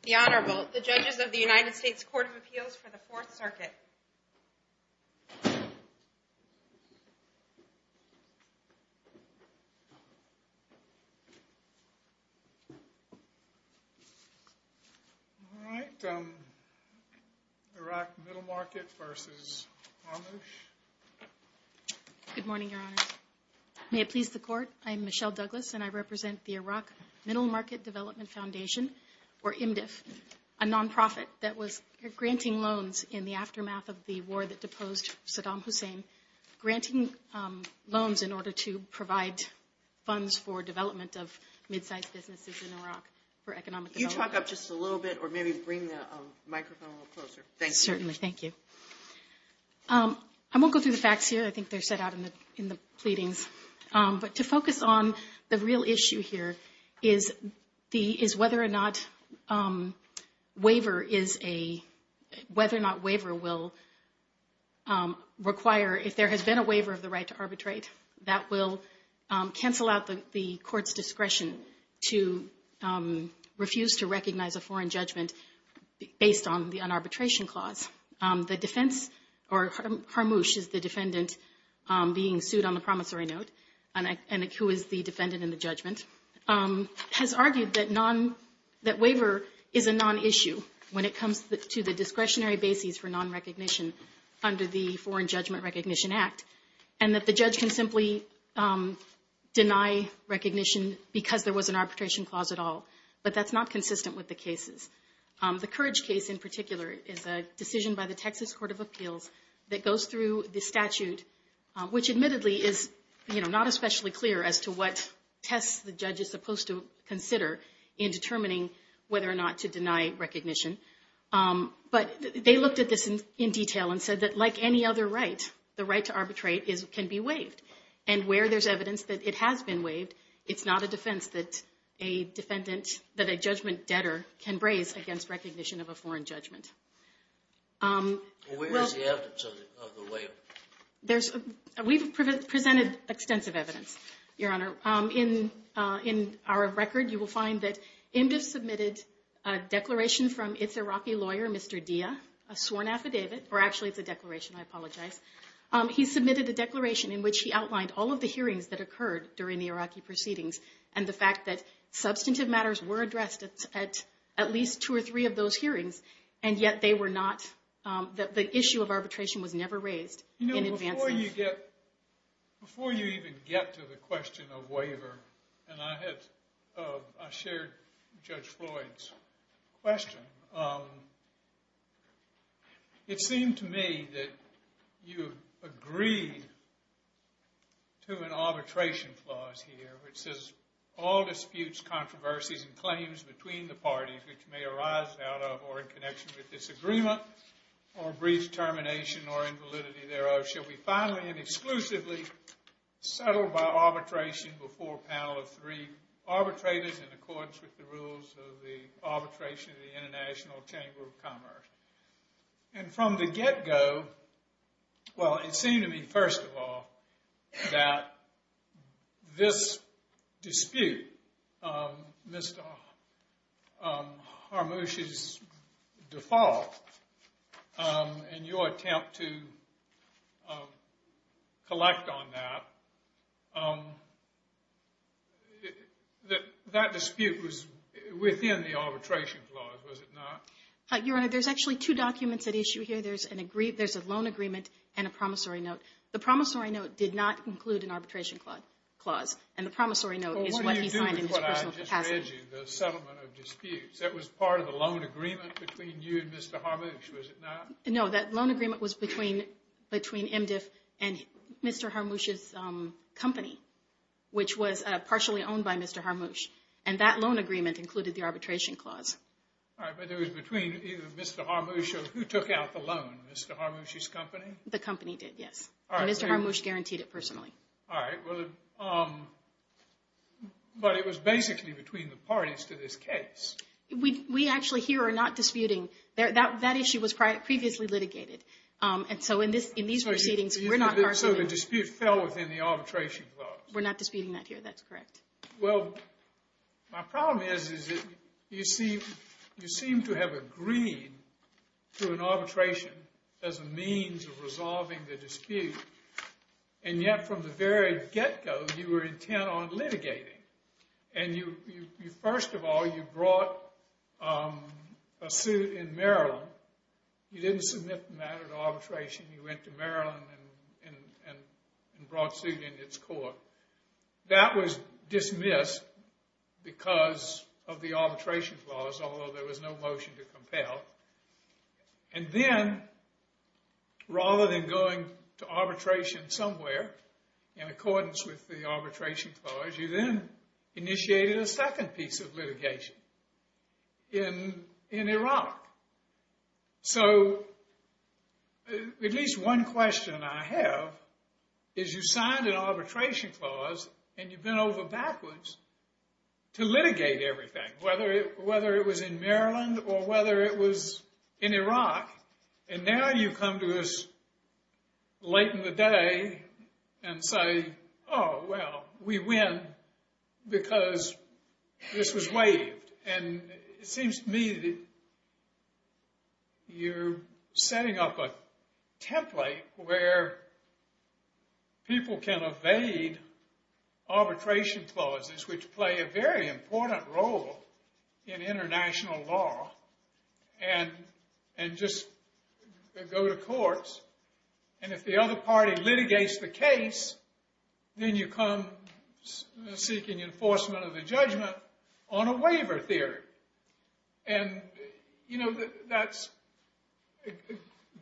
The Honorable, the judges of the United States Court of Appeals for the Fourth Circuit. All right, Iraq Middle Market v. Harmoosh. Good morning, Your Honor. May it please the Court, I'm Michelle Douglas, and I represent the Iraq Middle Market Development Foundation, or IMDF, a nonprofit that was granting loans in the aftermath of the war that deposed Saddam Hussein, granting loans in order to provide funds for development of mid-sized businesses in Iraq for economic development. Can you talk up just a little bit or maybe bring the microphone a little closer? Thank you. Certainly. Thank you. I won't go through the facts here. I think they're set out in the pleadings. But to focus on the real issue here is whether or not waiver will require, if there has been a waiver of the right to arbitrate, that will cancel out the court's discretion to refuse to recognize a foreign judgment based on the unarbitration clause. The defense, or Harmoosh is the defendant being sued on the promissory note, and who is the defendant in the judgment, has argued that waiver is a nonissue when it comes to the discretionary bases for nonrecognition under the Foreign Judgment Recognition Act, and that the judge can simply deny recognition because there was an arbitration clause at all. But that's not consistent with the cases. The Courage case in particular is a decision by the Texas Court of Appeals that goes through the statute, which admittedly is not especially clear as to what tests the judge is supposed to consider in determining whether or not to deny recognition. But they looked at this in detail and said that like any other right, the right to arbitrate can be waived. And where there's evidence that it has been waived, it's not a defense that a judgment debtor can raise against recognition of a foreign judgment. Where is the evidence of the waiver? We've presented extensive evidence, Your Honor. In our record, you will find that IMDF submitted a declaration from its Iraqi lawyer, Mr. Dia, a sworn affidavit, or actually it's a declaration, I apologize. He submitted a declaration in which he outlined all of the hearings that occurred during the Iraqi proceedings and the fact that substantive matters were addressed at least two or three of those hearings, and yet they were not, the issue of arbitration was never raised in advance. You know, before you even get to the question of waiver, and I shared Judge Floyd's question, it seemed to me that you agreed to an arbitration clause here which says, all disputes, controversies, and claims between the parties which may arise out of or in connection with disagreement or brief termination or invalidity thereof shall be finally and exclusively settled by arbitration before a panel of three arbitrators in accordance with the rules of the arbitration of the International Chamber of Commerce. And from the get-go, well, it seemed to me, first of all, that this dispute, Mr. Harmouche's default, and your attempt to collect on that, that dispute was within the arbitration clause, was it not? Your Honor, there's actually two documents at issue here. There's a loan agreement and a promissory note. The promissory note did not include an arbitration clause, and the promissory note is what he signed in his personal capacity. Well, what do you do with what I just read you, the settlement of disputes? That was part of the loan agreement between you and Mr. Harmouche, was it not? No, that loan agreement was between MDF and Mr. Harmouche's company, which was partially owned by Mr. Harmouche. And that loan agreement included the arbitration clause. All right, but it was between either Mr. Harmouche or who took out the loan, Mr. Harmouche's company? The company did, yes. And Mr. Harmouche guaranteed it personally. All right, but it was basically between the parties to this case. We actually here are not disputing. That issue was previously litigated. And so in these proceedings, we're not arguing. So the dispute fell within the arbitration clause. We're not disputing that here. That's correct. Well, my problem is that you seem to have agreed to an arbitration as a means of resolving the dispute, and yet from the very get-go, you were intent on litigating. And first of all, you brought a suit in Maryland. You didn't submit the matter to arbitration. You went to Maryland and brought suit in its court. That was dismissed because of the arbitration clause, although there was no motion to compel. And then rather than going to arbitration somewhere in accordance with the arbitration clause, you then initiated a second piece of litigation in Iraq. So at least one question I have is you signed an arbitration clause and you bent over backwards to litigate everything, whether it was in Maryland or whether it was in Iraq. And now you come to us late in the day and say, oh, well, we win because this was waived. And it seems to me that you're setting up a template where people can evade arbitration clauses, which play a very important role in international law, and just go to courts. And if the other party litigates the case, then you come seeking enforcement of the judgment on a waiver theory. And, you know,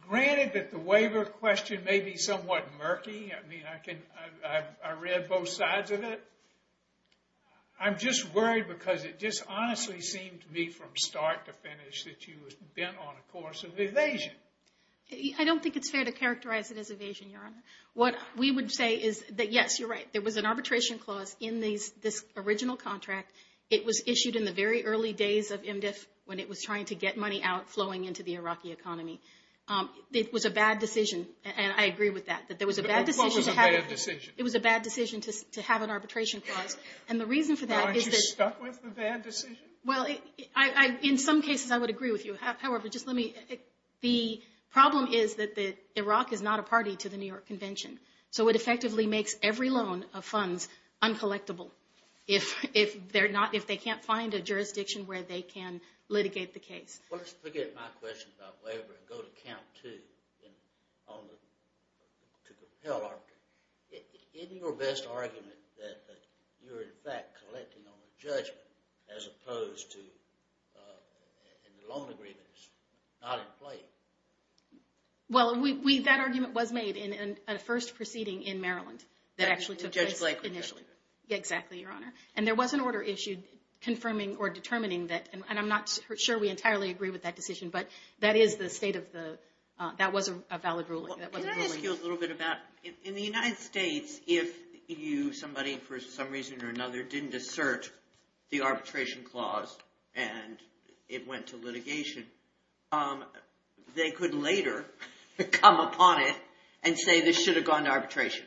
granted that the waiver question may be somewhat murky. I mean, I read both sides of it. I'm just worried because it just honestly seemed to me from start to finish that you had been on a course of evasion. I don't think it's fair to characterize it as evasion, Your Honor. What we would say is that, yes, you're right. There was an arbitration clause in this original contract. It was issued in the very early days of MDF when it was trying to get money out flowing into the Iraqi economy. It was a bad decision, and I agree with that. What was a bad decision? It was a bad decision to have an arbitration clause. And the reason for that is that— Aren't you stuck with the bad decision? Well, in some cases I would agree with you. However, just let me—the problem is that Iraq is not a party to the New York Convention. So it effectively makes every loan of funds uncollectable if they can't find a jurisdiction where they can litigate the case. Well, let's forget my question about waiver and go to count two to compel arbitration. Isn't your best argument that you're, in fact, collecting on a judgment as opposed to—and the loan agreement is not in play? Well, that argument was made in a first proceeding in Maryland that actually took place initially. In Judge Blakely's case? Exactly, Your Honor. And there was an order issued confirming or determining that. And I'm not sure we entirely agree with that decision, but that is the state of the—that was a valid ruling. Can I ask you a little bit about—in the United States, if you, somebody for some reason or another, didn't assert the arbitration clause and it went to litigation, they could later come upon it and say this should have gone to arbitration.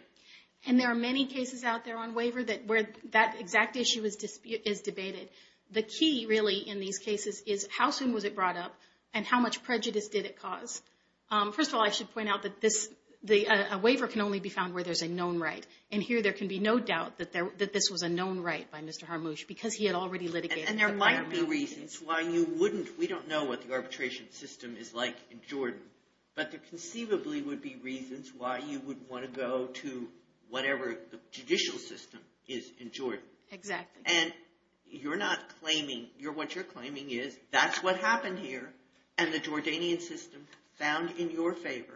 And there are many cases out there on waiver where that exact issue is debated. The key, really, in these cases is how soon was it brought up and how much prejudice did it cause. First of all, I should point out that this—a waiver can only be found where there's a known right. And here there can be no doubt that this was a known right by Mr. Harmouche because he had already litigated. And there might be reasons why you wouldn't. We don't know what the arbitration system is like in Jordan, but there conceivably would be reasons why you would want to go to whatever the judicial system is in Jordan. Exactly. And you're not claiming—what you're claiming is that's what happened here and the Jordanian system found in your favor.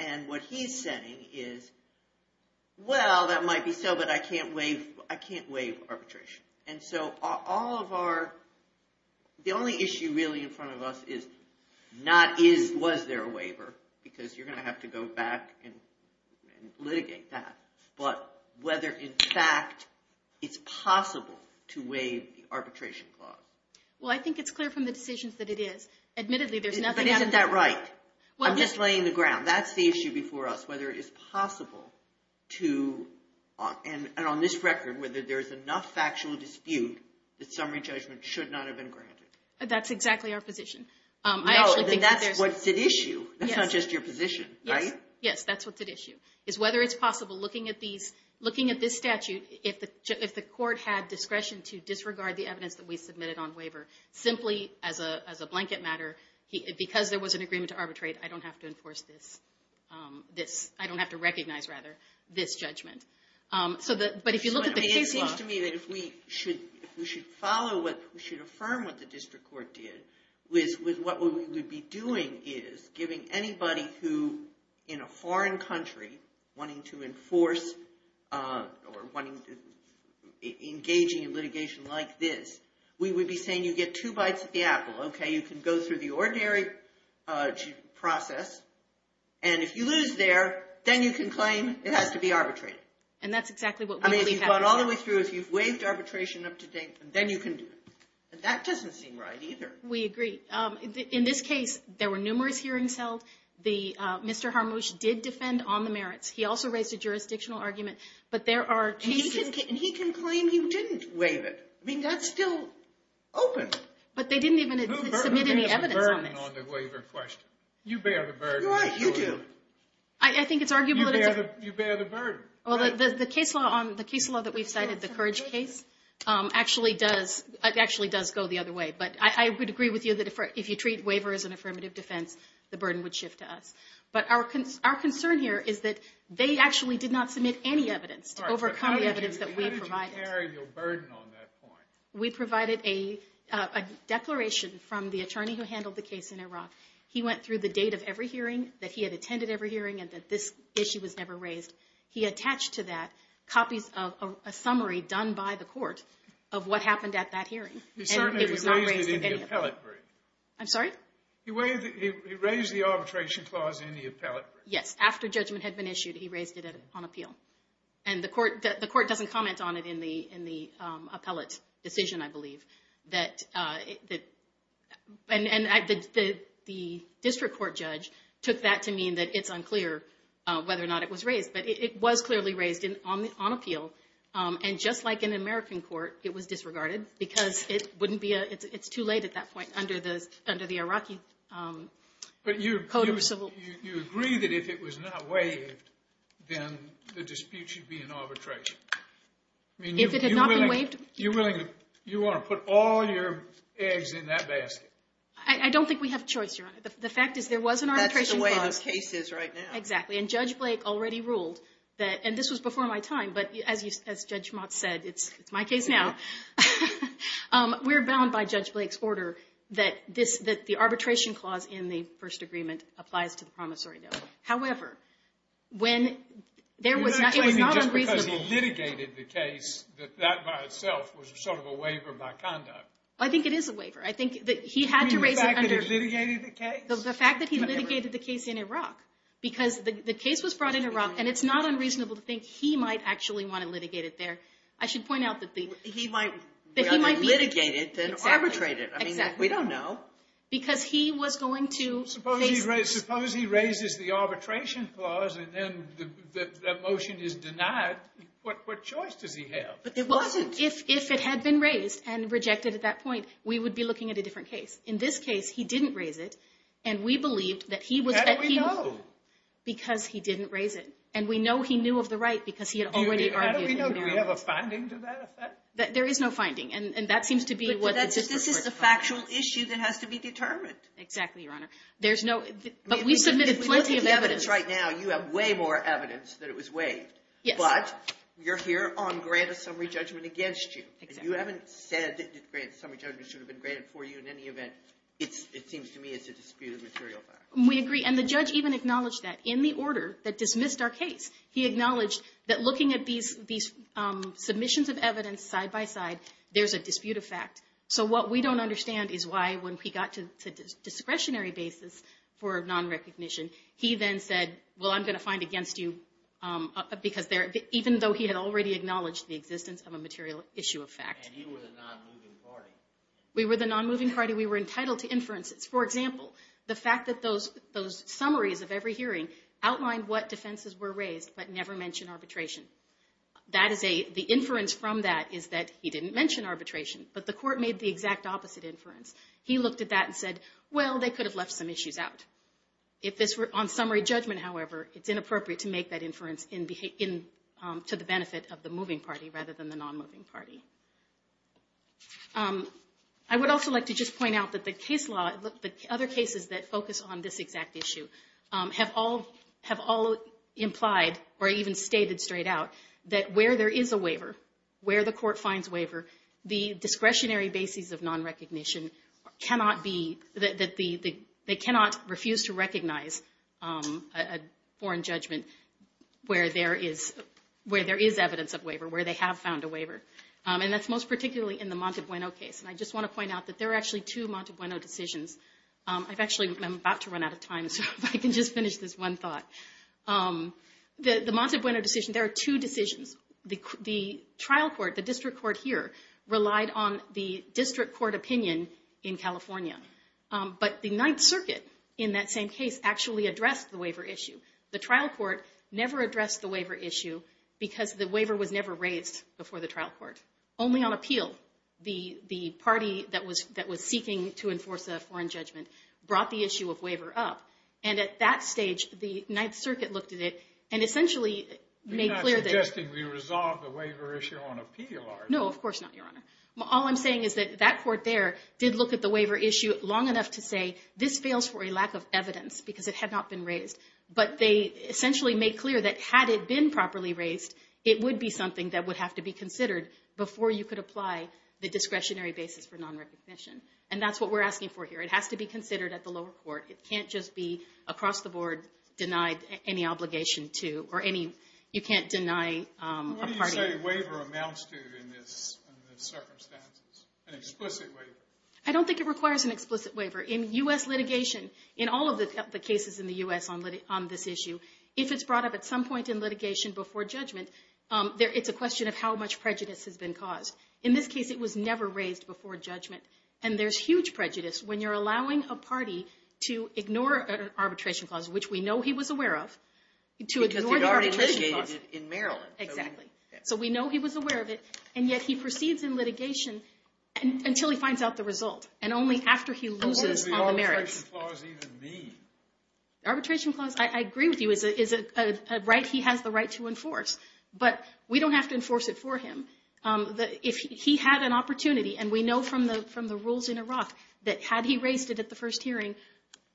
And what he's saying is, well, that might be so, but I can't waive arbitration. And so all of our—the only issue, really, in front of us is not was there a waiver because you're going to have to go back and litigate that, but whether, in fact, it's possible to waive the arbitration clause. Well, I think it's clear from the decisions that it is. Admittedly, there's nothing— But isn't that right? I'm just laying the ground. That's the issue before us, whether it is possible to—and on this record, whether there's enough factual dispute that summary judgment should not have been granted. That's exactly our position. No, then that's what's at issue. That's not just your position, right? Yes, that's what's at issue, is whether it's possible, looking at this statute, if the court had discretion to disregard the evidence that we submitted on waiver, simply as a blanket matter, because there was an agreement to arbitrate, I don't have to enforce this—I don't have to recognize, rather, this judgment. But if you look at the case law— It seems to me that if we should follow what—if we should affirm what the district court did, what we would be doing is giving anybody who, in a foreign country, wanting to enforce or engaging in litigation like this, we would be saying you get two bites at the apple, okay? You can go through the ordinary process, and if you lose there, then you can claim it has to be arbitrated. And that's exactly what we believe happens. I mean, if you've gone all the way through, if you've waived arbitration up to date, then you can do it. That doesn't seem right, either. We agree. In this case, there were numerous hearings held. Mr. Harmouche did defend on the merits. He also raised a jurisdictional argument, but there are cases— And he can claim you didn't waive it. I mean, that's still open. But they didn't even submit any evidence on this. Who bears the burden on the waiver question? You bear the burden. You do. I think it's arguable that it's— You bear the burden. The case law that we've cited, the Courage case, actually does go the other way. But I would agree with you that if you treat waiver as an affirmative defense, the burden would shift to us. But our concern here is that they actually did not submit any evidence to overcome the evidence that we provided. How do you bear your burden on that point? We provided a declaration from the attorney who handled the case in Iraq. He went through the date of every hearing, that he had attended every hearing, and that this issue was never raised. He attached to that copies of a summary done by the court of what happened at that hearing. He certainly raised it in the appellate brief. I'm sorry? He raised the arbitration clause in the appellate brief. Yes. After judgment had been issued, he raised it on appeal. And the court doesn't comment on it in the appellate decision, I believe. And the district court judge took that to mean that it's unclear whether or not it was raised. But it was clearly raised on appeal. And just like in an American court, it was disregarded because it wouldn't be—it's too late at that point under the Iraqi code of civil— So you agree that if it was not waived, then the dispute should be in arbitration? If it had not been waived— You're willing to—you want to put all your eggs in that basket? I don't think we have a choice, Your Honor. The fact is there was an arbitration clause— That's the way the case is right now. Exactly. And Judge Blake already ruled that—and this was before my time, but as Judge Motz said, it's my case now. We're bound by Judge Blake's order that the arbitration clause in the first agreement applies to the promissory note. However, when there was— You're not claiming just because he litigated the case that that by itself was sort of a waiver by conduct? I think it is a waiver. I think that he had to raise it under— You mean the fact that he litigated the case? The fact that he litigated the case in Iraq. Because the case was brought in Iraq, and it's not unreasonable to think he might actually want to litigate it there. I should point out that the— He might— That he might be— Well, he might litigate it, then arbitrate it. Exactly. I mean, we don't know. Because he was going to— Suppose he raises the arbitration clause, and then the motion is denied. What choice does he have? But it wasn't— If it had been raised and rejected at that point, we would be looking at a different case. In this case, he didn't raise it, and we believed that he was— How do we know? Because he didn't raise it. And we know he knew of the right because he had already argued it. Do we have a finding to that effect? There is no finding. And that seems to be what— This is a factual issue that has to be determined. Exactly, Your Honor. But we submitted plenty of evidence. If we look at the evidence right now, you have way more evidence that it was waived. Yes. But you're here on grant of summary judgment against you. And you haven't said that the grant of summary judgment should have been granted for you in any event. It seems to me it's a disputed material fact. We agree. And the judge even acknowledged that in the order that dismissed our case. He acknowledged that looking at these submissions of evidence side-by-side, there's a disputed fact. So what we don't understand is why when we got to discretionary basis for non-recognition, he then said, well, I'm going to find against you, even though he had already acknowledged the existence of a material issue of fact. And you were the non-moving party. We were the non-moving party. We were entitled to inferences. For example, the fact that those summaries of every hearing outlined what defenses were raised, but never mentioned arbitration. The inference from that is that he didn't mention arbitration. But the court made the exact opposite inference. He looked at that and said, well, they could have left some issues out. On summary judgment, however, it's inappropriate to make that inference to the benefit of the moving party rather than the non-moving party. I would also like to just point out that the other cases that focus on this exact issue have all implied or even stated straight out that where there is a waiver, where the court finds waiver, the discretionary basis of non-recognition, they cannot refuse to recognize a foreign judgment where there is evidence of waiver, where they have found a waiver. And that's most particularly in the Montabueno case. And I just want to point out that there are actually two Montabueno decisions. I've actually, I'm about to run out of time, so if I can just finish this one thought. The Montabueno decision, there are two decisions. The trial court, the district court here, relied on the district court opinion in California. But the Ninth Circuit, in that same case, actually addressed the waiver issue. The trial court never addressed the waiver issue because the waiver was never raised before the trial court, only on appeal. The party that was seeking to enforce a foreign judgment brought the issue of waiver up. And at that stage, the Ninth Circuit looked at it and essentially made clear that You're not suggesting we resolve the waiver issue on appeal, are you? No, of course not, Your Honor. All I'm saying is that that court there did look at the waiver issue long enough to say this fails for a lack of evidence because it had not been raised. But they essentially made clear that had it been properly raised, it would be something that would have to be considered before you could apply the discretionary basis for non-recognition. And that's what we're asking for here. It has to be considered at the lower court. It can't just be across the board denied any obligation to, or any, you can't deny a party. What do you say a waiver amounts to in this circumstance? An explicit waiver? I don't think it requires an explicit waiver. In U.S. litigation, in all of the cases in the U.S. on this issue, if it's brought up at some point in litigation before judgment, it's a question of how much prejudice has been caused. In this case, it was never raised before judgment. And there's huge prejudice when you're allowing a party to ignore an arbitration clause, which we know he was aware of, to ignore the arbitration clause. Because they've already litigated it in Maryland. Exactly. So we know he was aware of it, and yet he proceeds in litigation until he finds out the result. And only after he loses on the merits. What does the arbitration clause even mean? Arbitration clause, I agree with you, is a right he has the right to enforce. But we don't have to enforce it for him. If he had an opportunity, and we know from the rules in Iraq that had he raised it at the first hearing,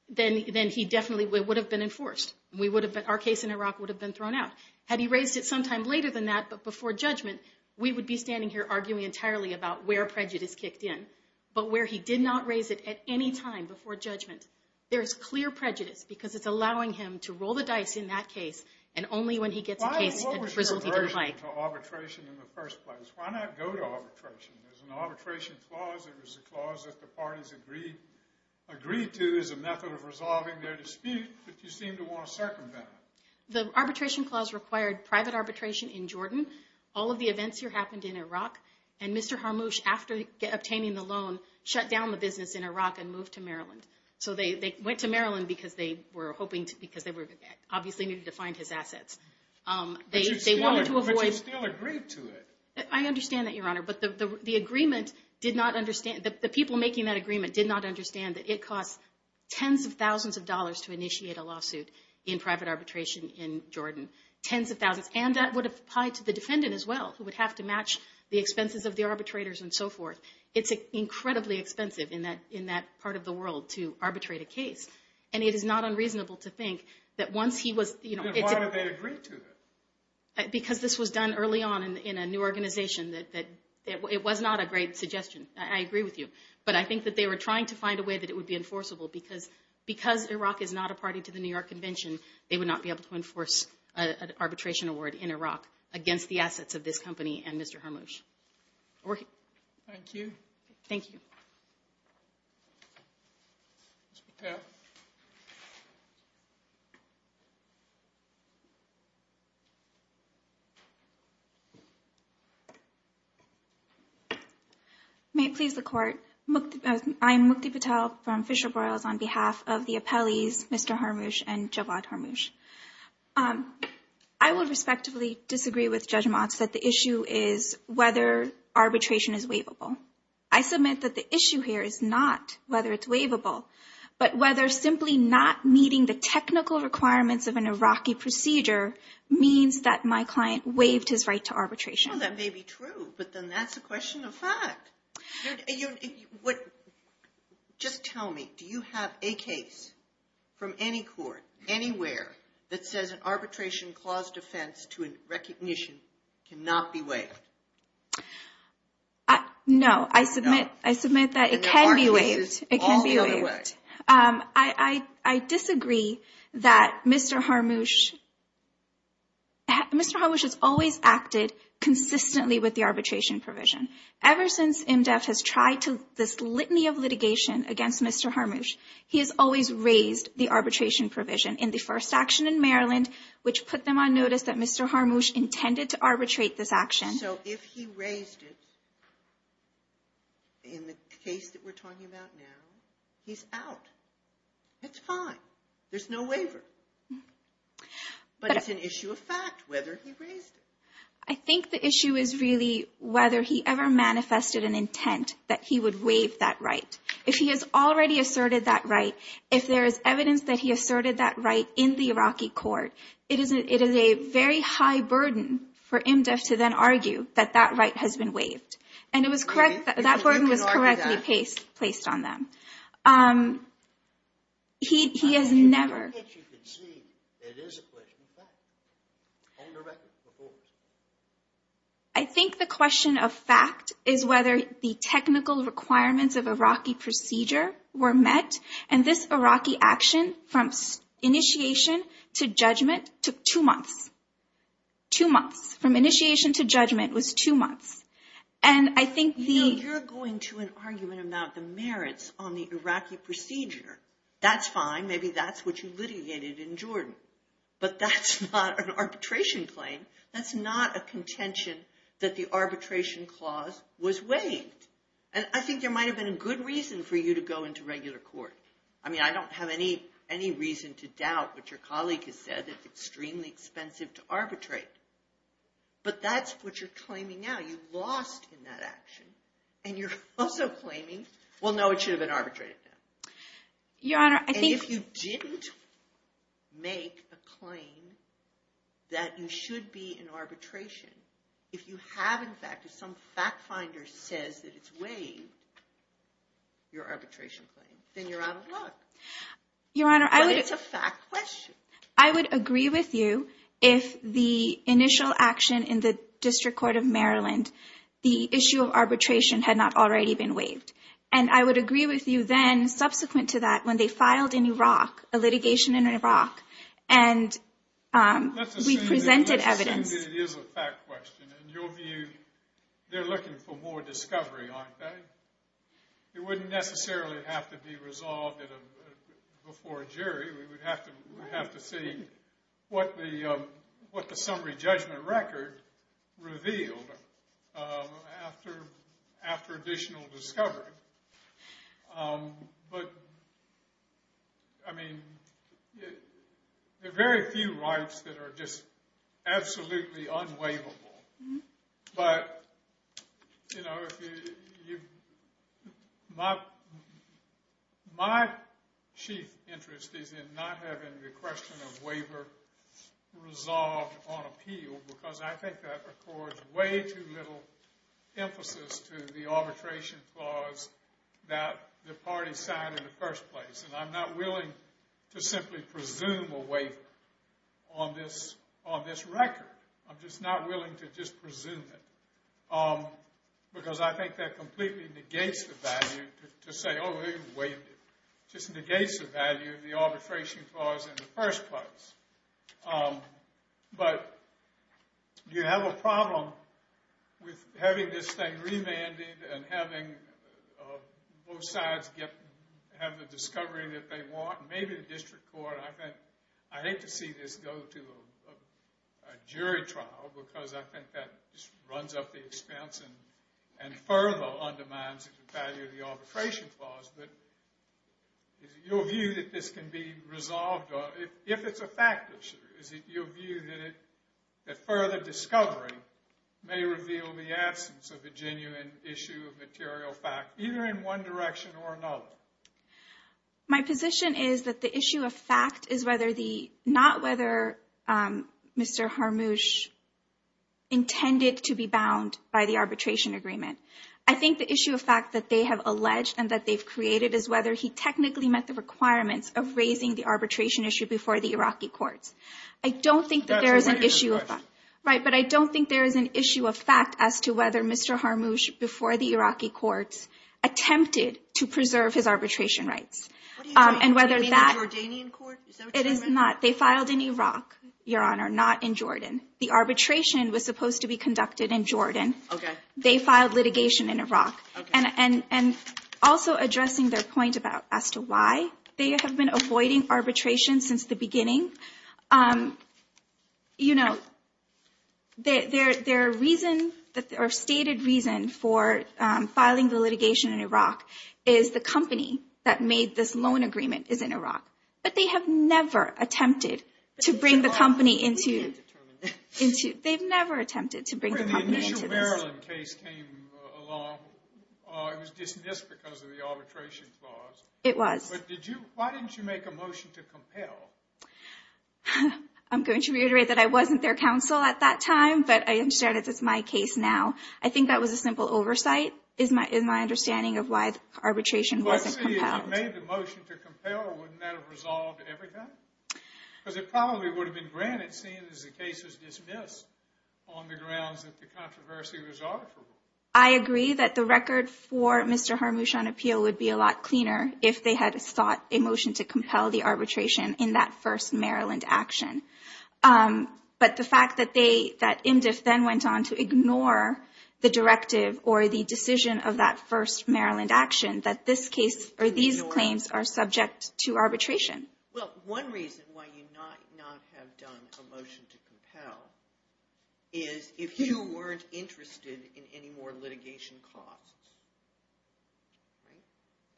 then he definitely would have been enforced. Our case in Iraq would have been thrown out. Had he raised it sometime later than that, but before judgment, we would be standing here arguing entirely about where prejudice kicked in, but where he did not raise it at any time before judgment. There is clear prejudice, because it's allowing him to roll the dice in that case, and only when he gets a case and the result he didn't like. Why lower your version of arbitration in the first place? Why not go to arbitration? There's an arbitration clause. It was a clause that the parties agreed to as a method of resolving their dispute, but you seem to want to circumvent it. The arbitration clause required private arbitration in Jordan. All of the events here happened in Iraq. And Mr. Harmoush, after obtaining the loan, shut down the business in Iraq and moved to Maryland. So they went to Maryland because they obviously needed to find his assets. But you still agreed to it. I understand that, Your Honor, but the people making that agreement did not understand that it costs tens of thousands of dollars to initiate a lawsuit in private arbitration in Jordan. Tens of thousands. And that would apply to the defendant as well, who would have to match the expenses of the arbitrators and so forth. It's incredibly expensive in that part of the world to arbitrate a case. And it is not unreasonable to think that once he was— Then why did they agree to it? Because this was done early on in a new organization. It was not a great suggestion. I agree with you. But I think that they were trying to find a way that it would be enforceable, because Iraq is not a party to the New York Convention, they would not be able to enforce an arbitration award in Iraq against the assets of this company and Mr. Harmoush. Thank you. Thank you. Ms. Patel. May it please the Court. I'm Mukti Patel from Fisher Broils on behalf of the appellees Mr. Harmoush and Javad Harmoush. I would respectively disagree with Judge Motz that the issue is whether arbitration is waivable. I submit that the issue here is not whether it's waivable, but whether simply not meeting the technical requirements of an Iraqi procedure means that my client waived his right to arbitration. I know that may be true, but then that's a question of fact. Just tell me, do you have a case from any court, anywhere, that says an arbitration clause defense to a recognition cannot be waived? No, I submit that it can be waived. All the other way. I disagree that Mr. Harmoush has always acted consistently with the arbitration provision. Ever since IMDEF has tried this litany of litigation against Mr. Harmoush, he has always raised the arbitration provision in the first action in Maryland, which put them on notice that Mr. Harmoush intended to arbitrate this action. So if he raised it in the case that we're talking about now, he's out. It's fine. There's no waiver. But it's an issue of fact whether he raised it. I think the issue is really whether he ever manifested an intent that he would waive that right. If he has already asserted that right, if there is evidence that he asserted that right in the Iraqi court, it is a very high burden for IMDEF to then argue that that right has been waived. And it was correct. That burden was correctly placed on them. He has never. As you can see, it is a question of fact. I think the question of fact is whether the technical requirements of Iraqi procedure were met, and this Iraqi action from initiation to judgment took two months. Two months. From initiation to judgment was two months. You're going to an argument about the merits on the Iraqi procedure. That's fine. Maybe that's what you litigated in Jordan. But that's not an arbitration claim. That's not a contention that the arbitration clause was waived. And I think there might have been a good reason for you to go into regular court. I mean, I don't have any reason to doubt what your colleague has said. It's extremely expensive to arbitrate. But that's what you're claiming now. You lost in that action. And you're also claiming, well, no, it should have been arbitrated. And if you didn't make a claim that you should be in arbitration, if you have, in fact, if some fact finder says that it's waived, your arbitration claim, then you're out of luck. But it's a fact question. I would agree with you if the initial action in the District Court of Maryland, the issue of arbitration had not already been waived. And I would agree with you then, subsequent to that, when they filed in Iraq, a litigation in Iraq, and we presented evidence. I think it is a fact question. In your view, they're looking for more discovery, aren't they? It wouldn't necessarily have to be resolved before a jury. We would have to see what the summary judgment record revealed after additional discovery. But, I mean, there are very few rights that are just absolutely unwaivable. But, you know, my chief interest is in not having the question of waiver resolved on appeal, because I think that records way too little emphasis to the arbitration clause that the parties signed in the first place. And I'm not willing to simply presume a waiver on this record. I'm just not willing to just presume it, because I think that completely negates the value to say, oh, they waived it. It just negates the value of the arbitration clause in the first place. But you have a problem with having this thing remanded and having both sides have the discovery that they want. And maybe the district court, I think, I hate to see this go to a jury trial, because I think that just runs up the expense and further undermines the value of the arbitration clause. But is it your view that this can be resolved if it's a fact issue? Is it your view that further discovery may reveal the absence of a genuine issue of material fact, either in one direction or another? My position is that the issue of fact is not whether Mr. Harmouche intended to be bound by the arbitration agreement. I think the issue of fact that they have alleged and that they've created is whether he technically met the requirements of raising the arbitration issue before the Iraqi courts. I don't think that there is an issue of fact. Right, but I don't think there is an issue of fact as to whether Mr. Harmouche, before the Iraqi courts, attempted to preserve his arbitration rights. And whether that – What do you mean? Do you mean the Jordanian court? It is not. They filed in Iraq, Your Honor, not in Jordan. The arbitration was supposed to be conducted in Jordan. Okay. They filed litigation in Iraq. Okay. And also addressing their point about as to why they have been avoiding arbitration since the beginning. You know, their reason or stated reason for filing the litigation in Iraq is the company that made this loan agreement is in Iraq. But they have never attempted to bring the company into – But Mr. Harmouche didn't determine that. They've never attempted to bring the company into this. The initial Maryland case came along. It was dismissed because of the arbitration clause. It was. But did you – why didn't you make a motion to compel? I'm going to reiterate that I wasn't their counsel at that time, but I understand it's my case now. I think that was a simple oversight is my understanding of why the arbitration wasn't compelled. If you made the motion to compel, wouldn't that have resolved everything? Because it probably would have been granted seeing as the case was dismissed on the grounds that the controversy was arbitrable. I agree that the record for Mr. Harmouche on appeal would be a lot cleaner if they had sought a motion to compel the arbitration in that first Maryland action. But the fact that IMDF then went on to ignore the directive or the decision of that first Maryland action, that this case or these claims are subject to arbitration. Well, one reason why you might not have done a motion to compel is if you weren't interested in any more litigation costs. Right?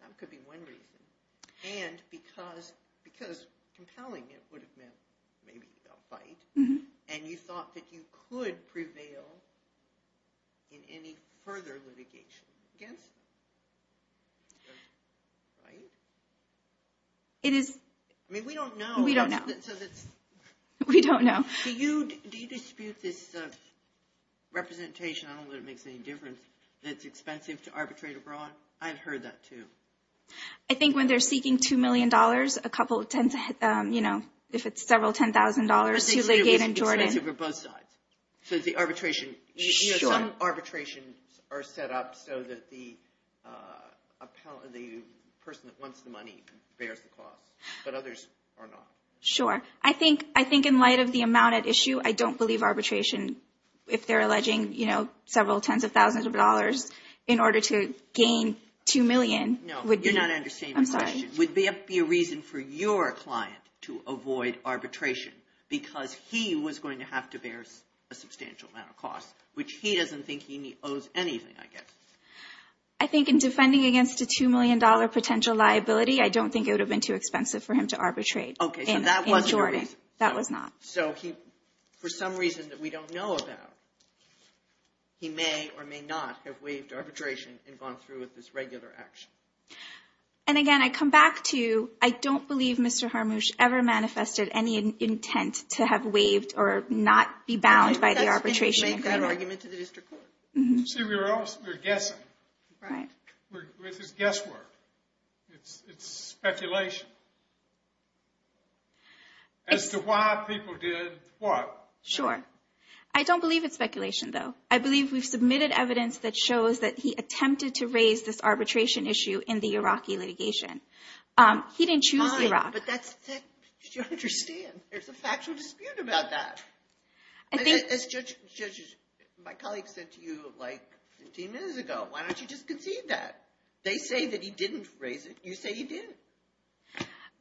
That could be one reason. And because compelling it would have meant maybe a fight, and you thought that you could prevail in any further litigation against them. Right? It is. I mean, we don't know. We don't know. We don't know. Do you dispute this representation, I don't know that it makes any difference, that it's expensive to arbitrate abroad? I've heard that, too. I think when they're seeking $2 million, a couple of, you know, if it's several $10,000 to Legate and Jordan. So the arbitration, you know, some arbitrations are set up so that the person that wants the money bears the cost, but others are not. Sure. I think in light of the amount at issue, I don't believe arbitration, if they're alleging, you know, several tens of thousands of dollars in order to gain $2 million, would be. No, you're not understanding my question. I'm sorry. Would there be a reason for your client to avoid arbitration because he was going to have to bear a substantial amount of cost, which he doesn't think he owes anything, I guess. I think in defending against a $2 million potential liability, I don't think it would have been too expensive for him to arbitrate in Jordan. Okay, so that wasn't the reason. That was not. So he, for some reason that we don't know about, he may or may not have waived arbitration and gone through with this regular action. And again, I come back to, I don't believe Mr. Harmouche ever manifested any intent to have waived or not be bound by the arbitration. I don't think he made that argument to the district court. See, we were all, we were guessing. Right. With his guesswork. It's speculation. As to why people did what. Sure. I don't believe it's speculation, though. I believe we've submitted evidence that shows that he attempted to raise this arbitration issue in the Iraqi litigation. He didn't choose Iraq. But that's, you don't understand. There's a factual dispute about that. As Judge, my colleague said to you like 15 minutes ago, why don't you just concede that? They say that he didn't raise it. You say he did.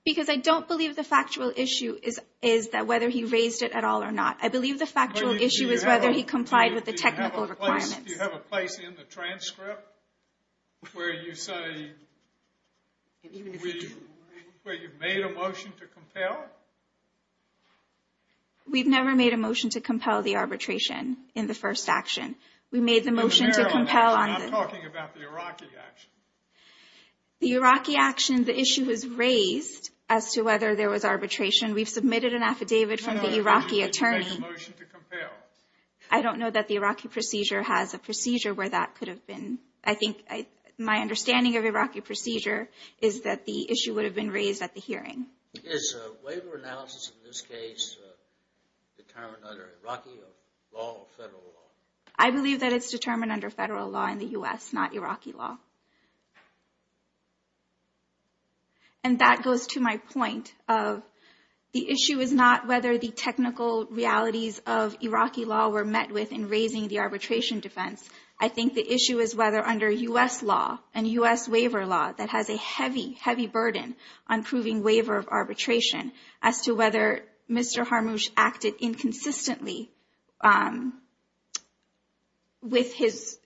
Because I don't believe the factual issue is that whether he raised it at all or not. I believe the factual issue is whether he complied with the technical requirements. Do you have a place in the transcript where you say, where you've made a motion to compel? We've never made a motion to compel the arbitration in the first action. We made the motion to compel on the. I'm talking about the Iraqi action. The Iraqi action, the issue was raised as to whether there was arbitration. We've submitted an affidavit from the Iraqi attorney. I don't know that the Iraqi procedure has a procedure where that could have been. I think my understanding of Iraqi procedure is that the issue would have been raised at the hearing. Is a waiver analysis in this case determined under Iraqi law or federal law? I believe that it's determined under federal law in the U.S., not Iraqi law. And that goes to my point of the issue is not whether the technical realities of Iraqi law were met with in raising the arbitration defense. I think the issue is whether under U.S. law and U.S. waiver law that has a heavy, heavy burden on proving waiver of arbitration as to whether Mr.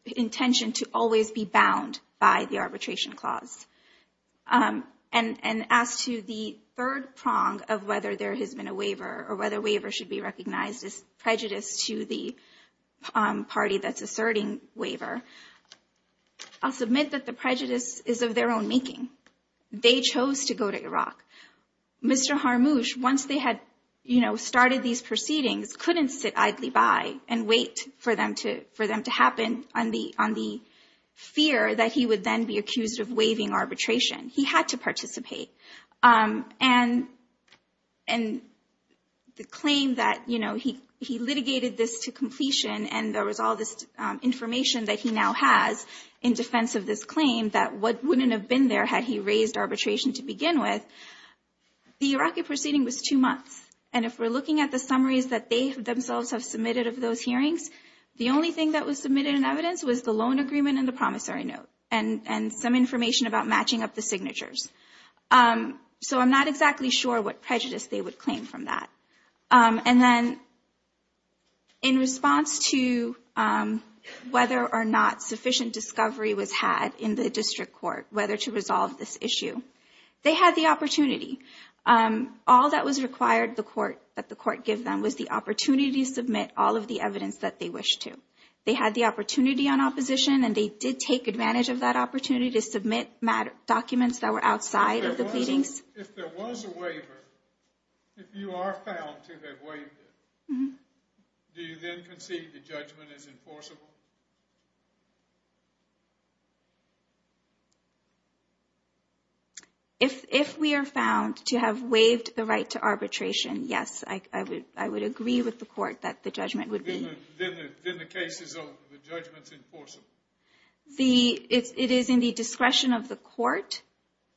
intention to always be bound by the arbitration clause. And as to the third prong of whether there has been a waiver or whether waiver should be recognized as prejudice to the party that's asserting waiver. I'll submit that the prejudice is of their own making. They chose to go to Iraq. Mr. Haramush, once they had started these proceedings, couldn't sit idly by and wait for them to happen on the fear that he would then be accused of waiving arbitration. He had to participate. And the claim that, you know, he litigated this to completion and there was all this information that he now has in defense of this claim, that what wouldn't have been there had he raised arbitration to begin with. The Iraqi proceeding was two months. And if we're looking at the summaries that they themselves have submitted of those hearings, the only thing that was submitted in evidence was the loan agreement and the promissory note and some information about matching up the signatures. So I'm not exactly sure what prejudice they would claim from that. And then. In response to whether or not sufficient discovery was had in the district court, whether to resolve this issue, they had the opportunity. All that was required that the court give them was the opportunity to submit all of the evidence that they wish to. They had the opportunity on opposition and they did take advantage of that opportunity to submit documents that were outside of the pleadings. If there was a waiver, if you are found to have waived it, do you then concede the judgment is enforceable? If we are found to have waived the right to arbitration, yes, I would agree with the court that the judgment would be. Then the case is over. The judgment is enforceable. It is in the discretion of the court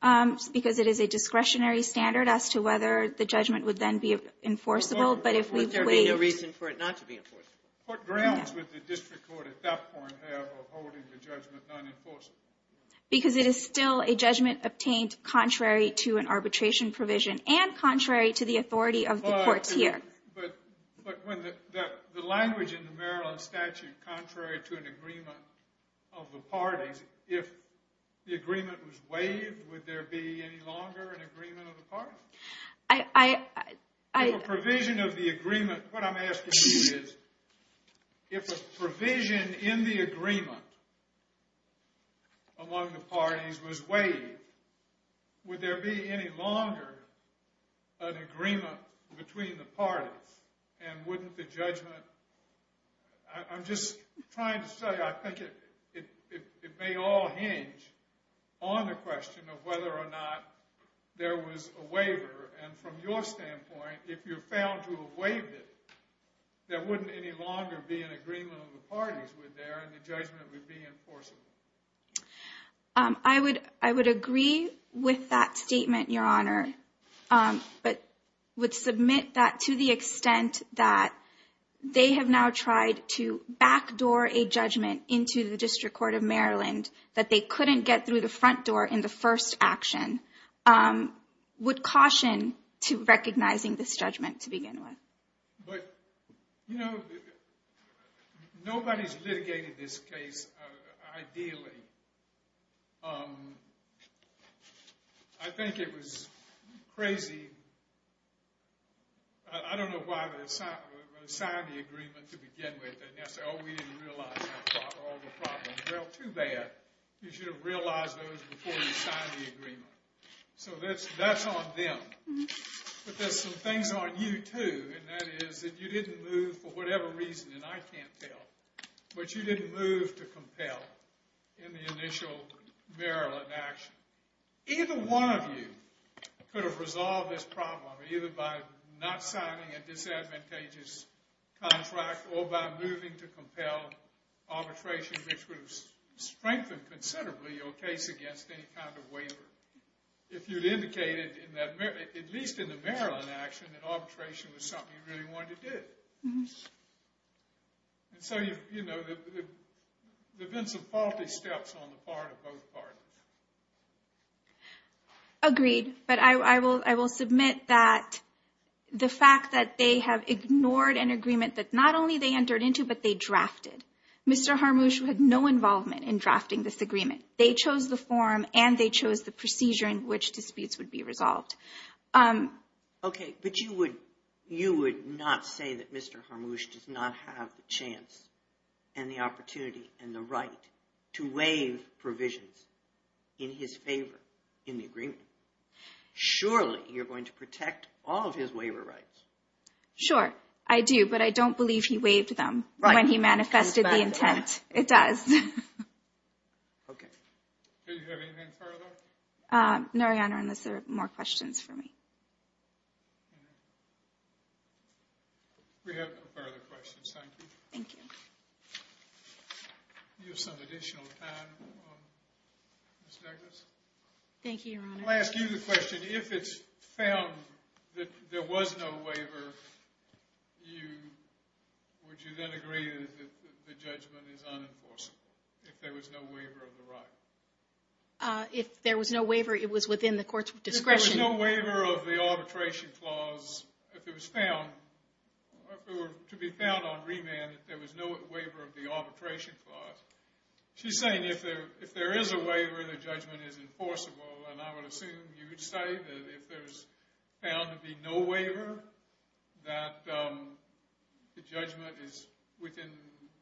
because it is a discretionary standard as to whether the judgment would then be enforceable. But there would be no reason for it not to be enforceable. What grounds would the district court at that point have of holding the judgment non-enforceable? Because it is still a judgment obtained contrary to an arbitration provision and contrary to the authority of the court here. But the language in the Maryland statute, contrary to an agreement of the parties, if the agreement was waived, would there be any longer an agreement of the parties? If a provision of the agreement, what I am asking you is, if a provision in the agreement among the parties was waived, would there be any longer an agreement between the parties? And wouldn't the judgment, I'm just trying to say, I think it may all hinge on the question of whether or not there was a waiver. And from your standpoint, if you're found to have waived it, there wouldn't any longer be an agreement of the parties there and the judgment would be enforceable. I would agree with that statement, Your Honor. But would submit that to the extent that they have now tried to backdoor a judgment into the District Court of Maryland that they couldn't get through the front door in the first action. Would caution to recognizing this judgment to begin with. But, you know, nobody's litigated this case ideally. I think it was crazy. I don't know why they signed the agreement to begin with and now say, oh, we didn't realize all the problems. Well, too bad. You should have realized those before you signed the agreement. So that's on them. But there's some things on you, too. And that is that you didn't move for whatever reason, and I can't tell, but you didn't move to compel in the initial Maryland action. Either one of you could have resolved this problem either by not signing a disadvantageous contract or by moving to compel arbitration, which would have strengthened considerably your case against any kind of waiver. If you'd indicated, at least in the Maryland action, that arbitration was something you really wanted to do. And so, you know, there have been some faulty steps on the part of both parties. Agreed. But I will submit that the fact that they have ignored an agreement that not only they entered into, but they drafted. Mr. Harmouche had no involvement in drafting this agreement. They chose the form and they chose the procedure in which disputes would be resolved. Okay. But you would not say that Mr. Harmouche does not have the chance and the opportunity and the right to waive provisions in his favor in the agreement. Surely, you're going to protect all of his waiver rights. Sure, I do. But I don't believe he waived them when he manifested the intent. It does. Okay. Do you have anything further? No, Your Honor, unless there are more questions for me. We have no further questions. Thank you. Thank you. You have some additional time, Ms. Douglas. Thank you, Your Honor. Let me ask you the question. If it's found that there was no waiver, would you then agree that the judgment is unenforceable if there was no waiver of the right? If there was no waiver, it was within the court's discretion. If there was no waiver of the arbitration clause, if it was found, or to be found on remand that there was no waiver of the arbitration clause, she's saying if there is a waiver, the judgment is enforceable. And I would assume you would say that if there's found to be no waiver, that the judgment is within,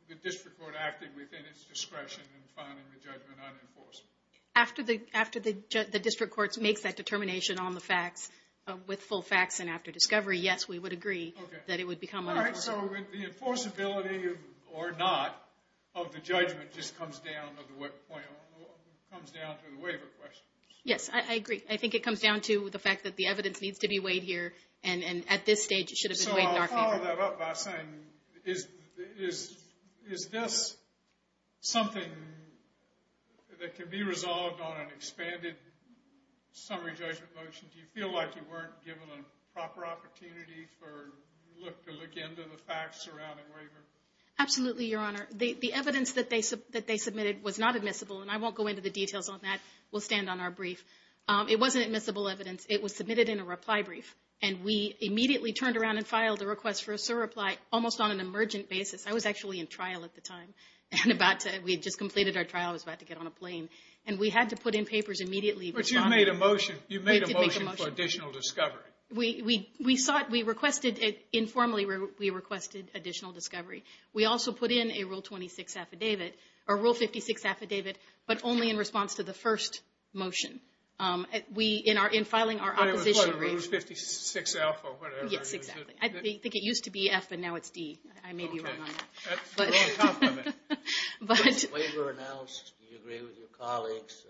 the district court acted within its discretion in finding the judgment unenforceable. After the district court makes that determination on the facts, with full facts and after discovery, yes, we would agree that it would become unenforceable. So the enforceability or not of the judgment just comes down to the waiver question. Yes, I agree. I think it comes down to the fact that the evidence needs to be weighed here. And at this stage, it should have been weighed in our favor. So I'll follow that up by saying, is this something that can be resolved on an expanded summary judgment motion? Do you feel like you weren't given a proper opportunity to look into the facts surrounding waiver? Absolutely, Your Honor. The evidence that they submitted was not admissible. And I won't go into the details on that. We'll stand on our brief. It wasn't admissible evidence. It was submitted in a reply brief. And we immediately turned around and filed a request for a SIR reply almost on an emergent basis. I was actually in trial at the time. We had just completed our trial. I was about to get on a plane. And we had to put in papers immediately. But you made a motion. You made a motion for additional discovery. We requested it informally. We requested additional discovery. We also put in a Rule 56 affidavit, but only in response to the first motion. In filing our opposition. But it was 56F or whatever. Yes, exactly. I think it used to be F and now it's D. I may be wrong on that. That's the wrong complement. Do you agree with your colleagues'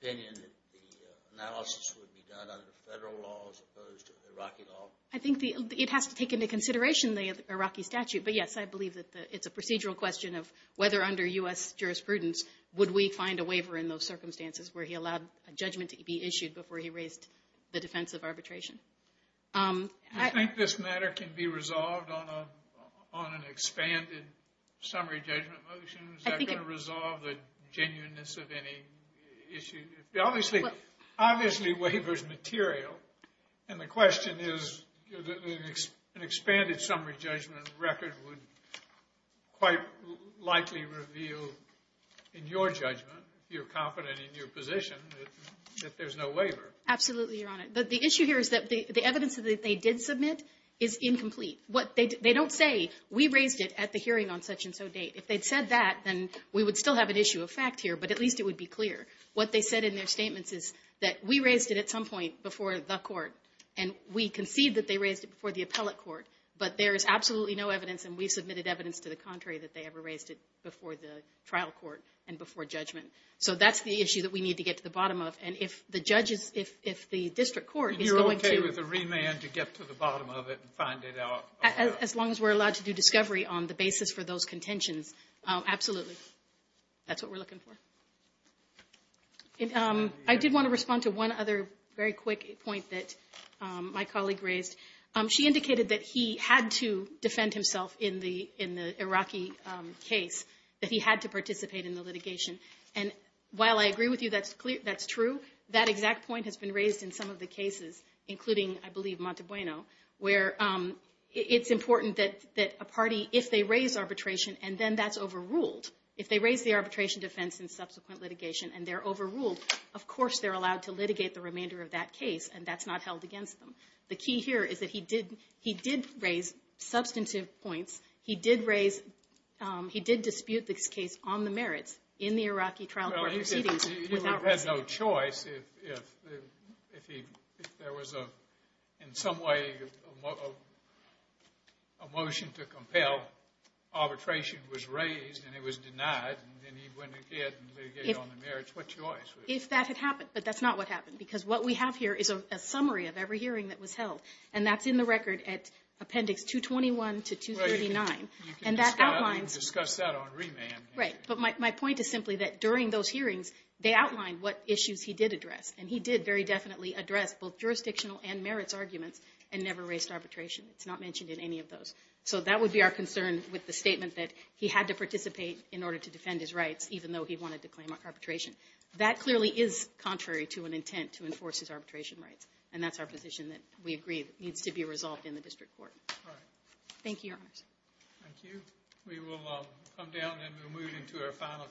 opinion that the analysis would be done under federal law as opposed to Iraqi law? I think it has to take into consideration the Iraqi statute. But yes, I believe that it's a procedural question of whether under U.S. jurisprudence would we find a waiver in those circumstances where he allowed a judgment to be issued before he raised the defense of arbitration. Do you think this matter can be resolved on an expanded summary judgment motion? Is that going to resolve the genuineness of any issue? Obviously, waiver is material. And the question is, an expanded summary judgment record would quite likely reveal, in your judgment, if you're confident in your position, that there's no waiver. Absolutely, Your Honor. But the issue here is that the evidence that they did submit is incomplete. They don't say, we raised it at the hearing on such-and-so date. If they'd said that, then we would still have an issue of fact here, but at least it would be clear. What they said in their statements is that we raised it at some point before the court, and we concede that they raised it before the appellate court. But there is absolutely no evidence, and we've submitted evidence to the contrary, that they ever raised it before the trial court and before judgment. So that's the issue that we need to get to the bottom of. And if the judge is – if the district court is going to – And you're okay with a remand to get to the bottom of it and find it out? As long as we're allowed to do discovery on the basis for those contentions, absolutely. That's what we're looking for. I did want to respond to one other very quick point that my colleague raised. She indicated that he had to defend himself in the Iraqi case, that he had to participate in the litigation. And while I agree with you that's true, that exact point has been raised in some of the cases, including, I believe, Montabueno, where it's important that a party – if they raise arbitration and then that's overruled, if they raise the arbitration defense in subsequent litigation and they're overruled, of course they're allowed to litigate the remainder of that case, and that's not held against them. The key here is that he did raise substantive points. He did raise – he did dispute this case on the merits in the Iraqi trial court proceedings. Well, he said he had no choice if there was, in some way, a motion to compel. Arbitration was raised and it was denied, and then he went again and litigated on the merits. What choice? If that had happened, but that's not what happened, because what we have here is a summary of every hearing that was held, and that's in the record at Appendix 221 to 239, and that outlines – Well, you can discuss that on remand. Right, but my point is simply that during those hearings they outlined what issues he did address, and he did very definitely address both jurisdictional and merits arguments and never raised arbitration. It's not mentioned in any of those. So that would be our concern with the statement that he had to participate in order to defend his rights, even though he wanted to claim arbitration. That clearly is contrary to an intent to enforce his arbitration rights, and that's our position that we agree needs to be resolved in the district court. All right. Thank you, Your Honors. Thank you. We will come down and we'll move into our final case.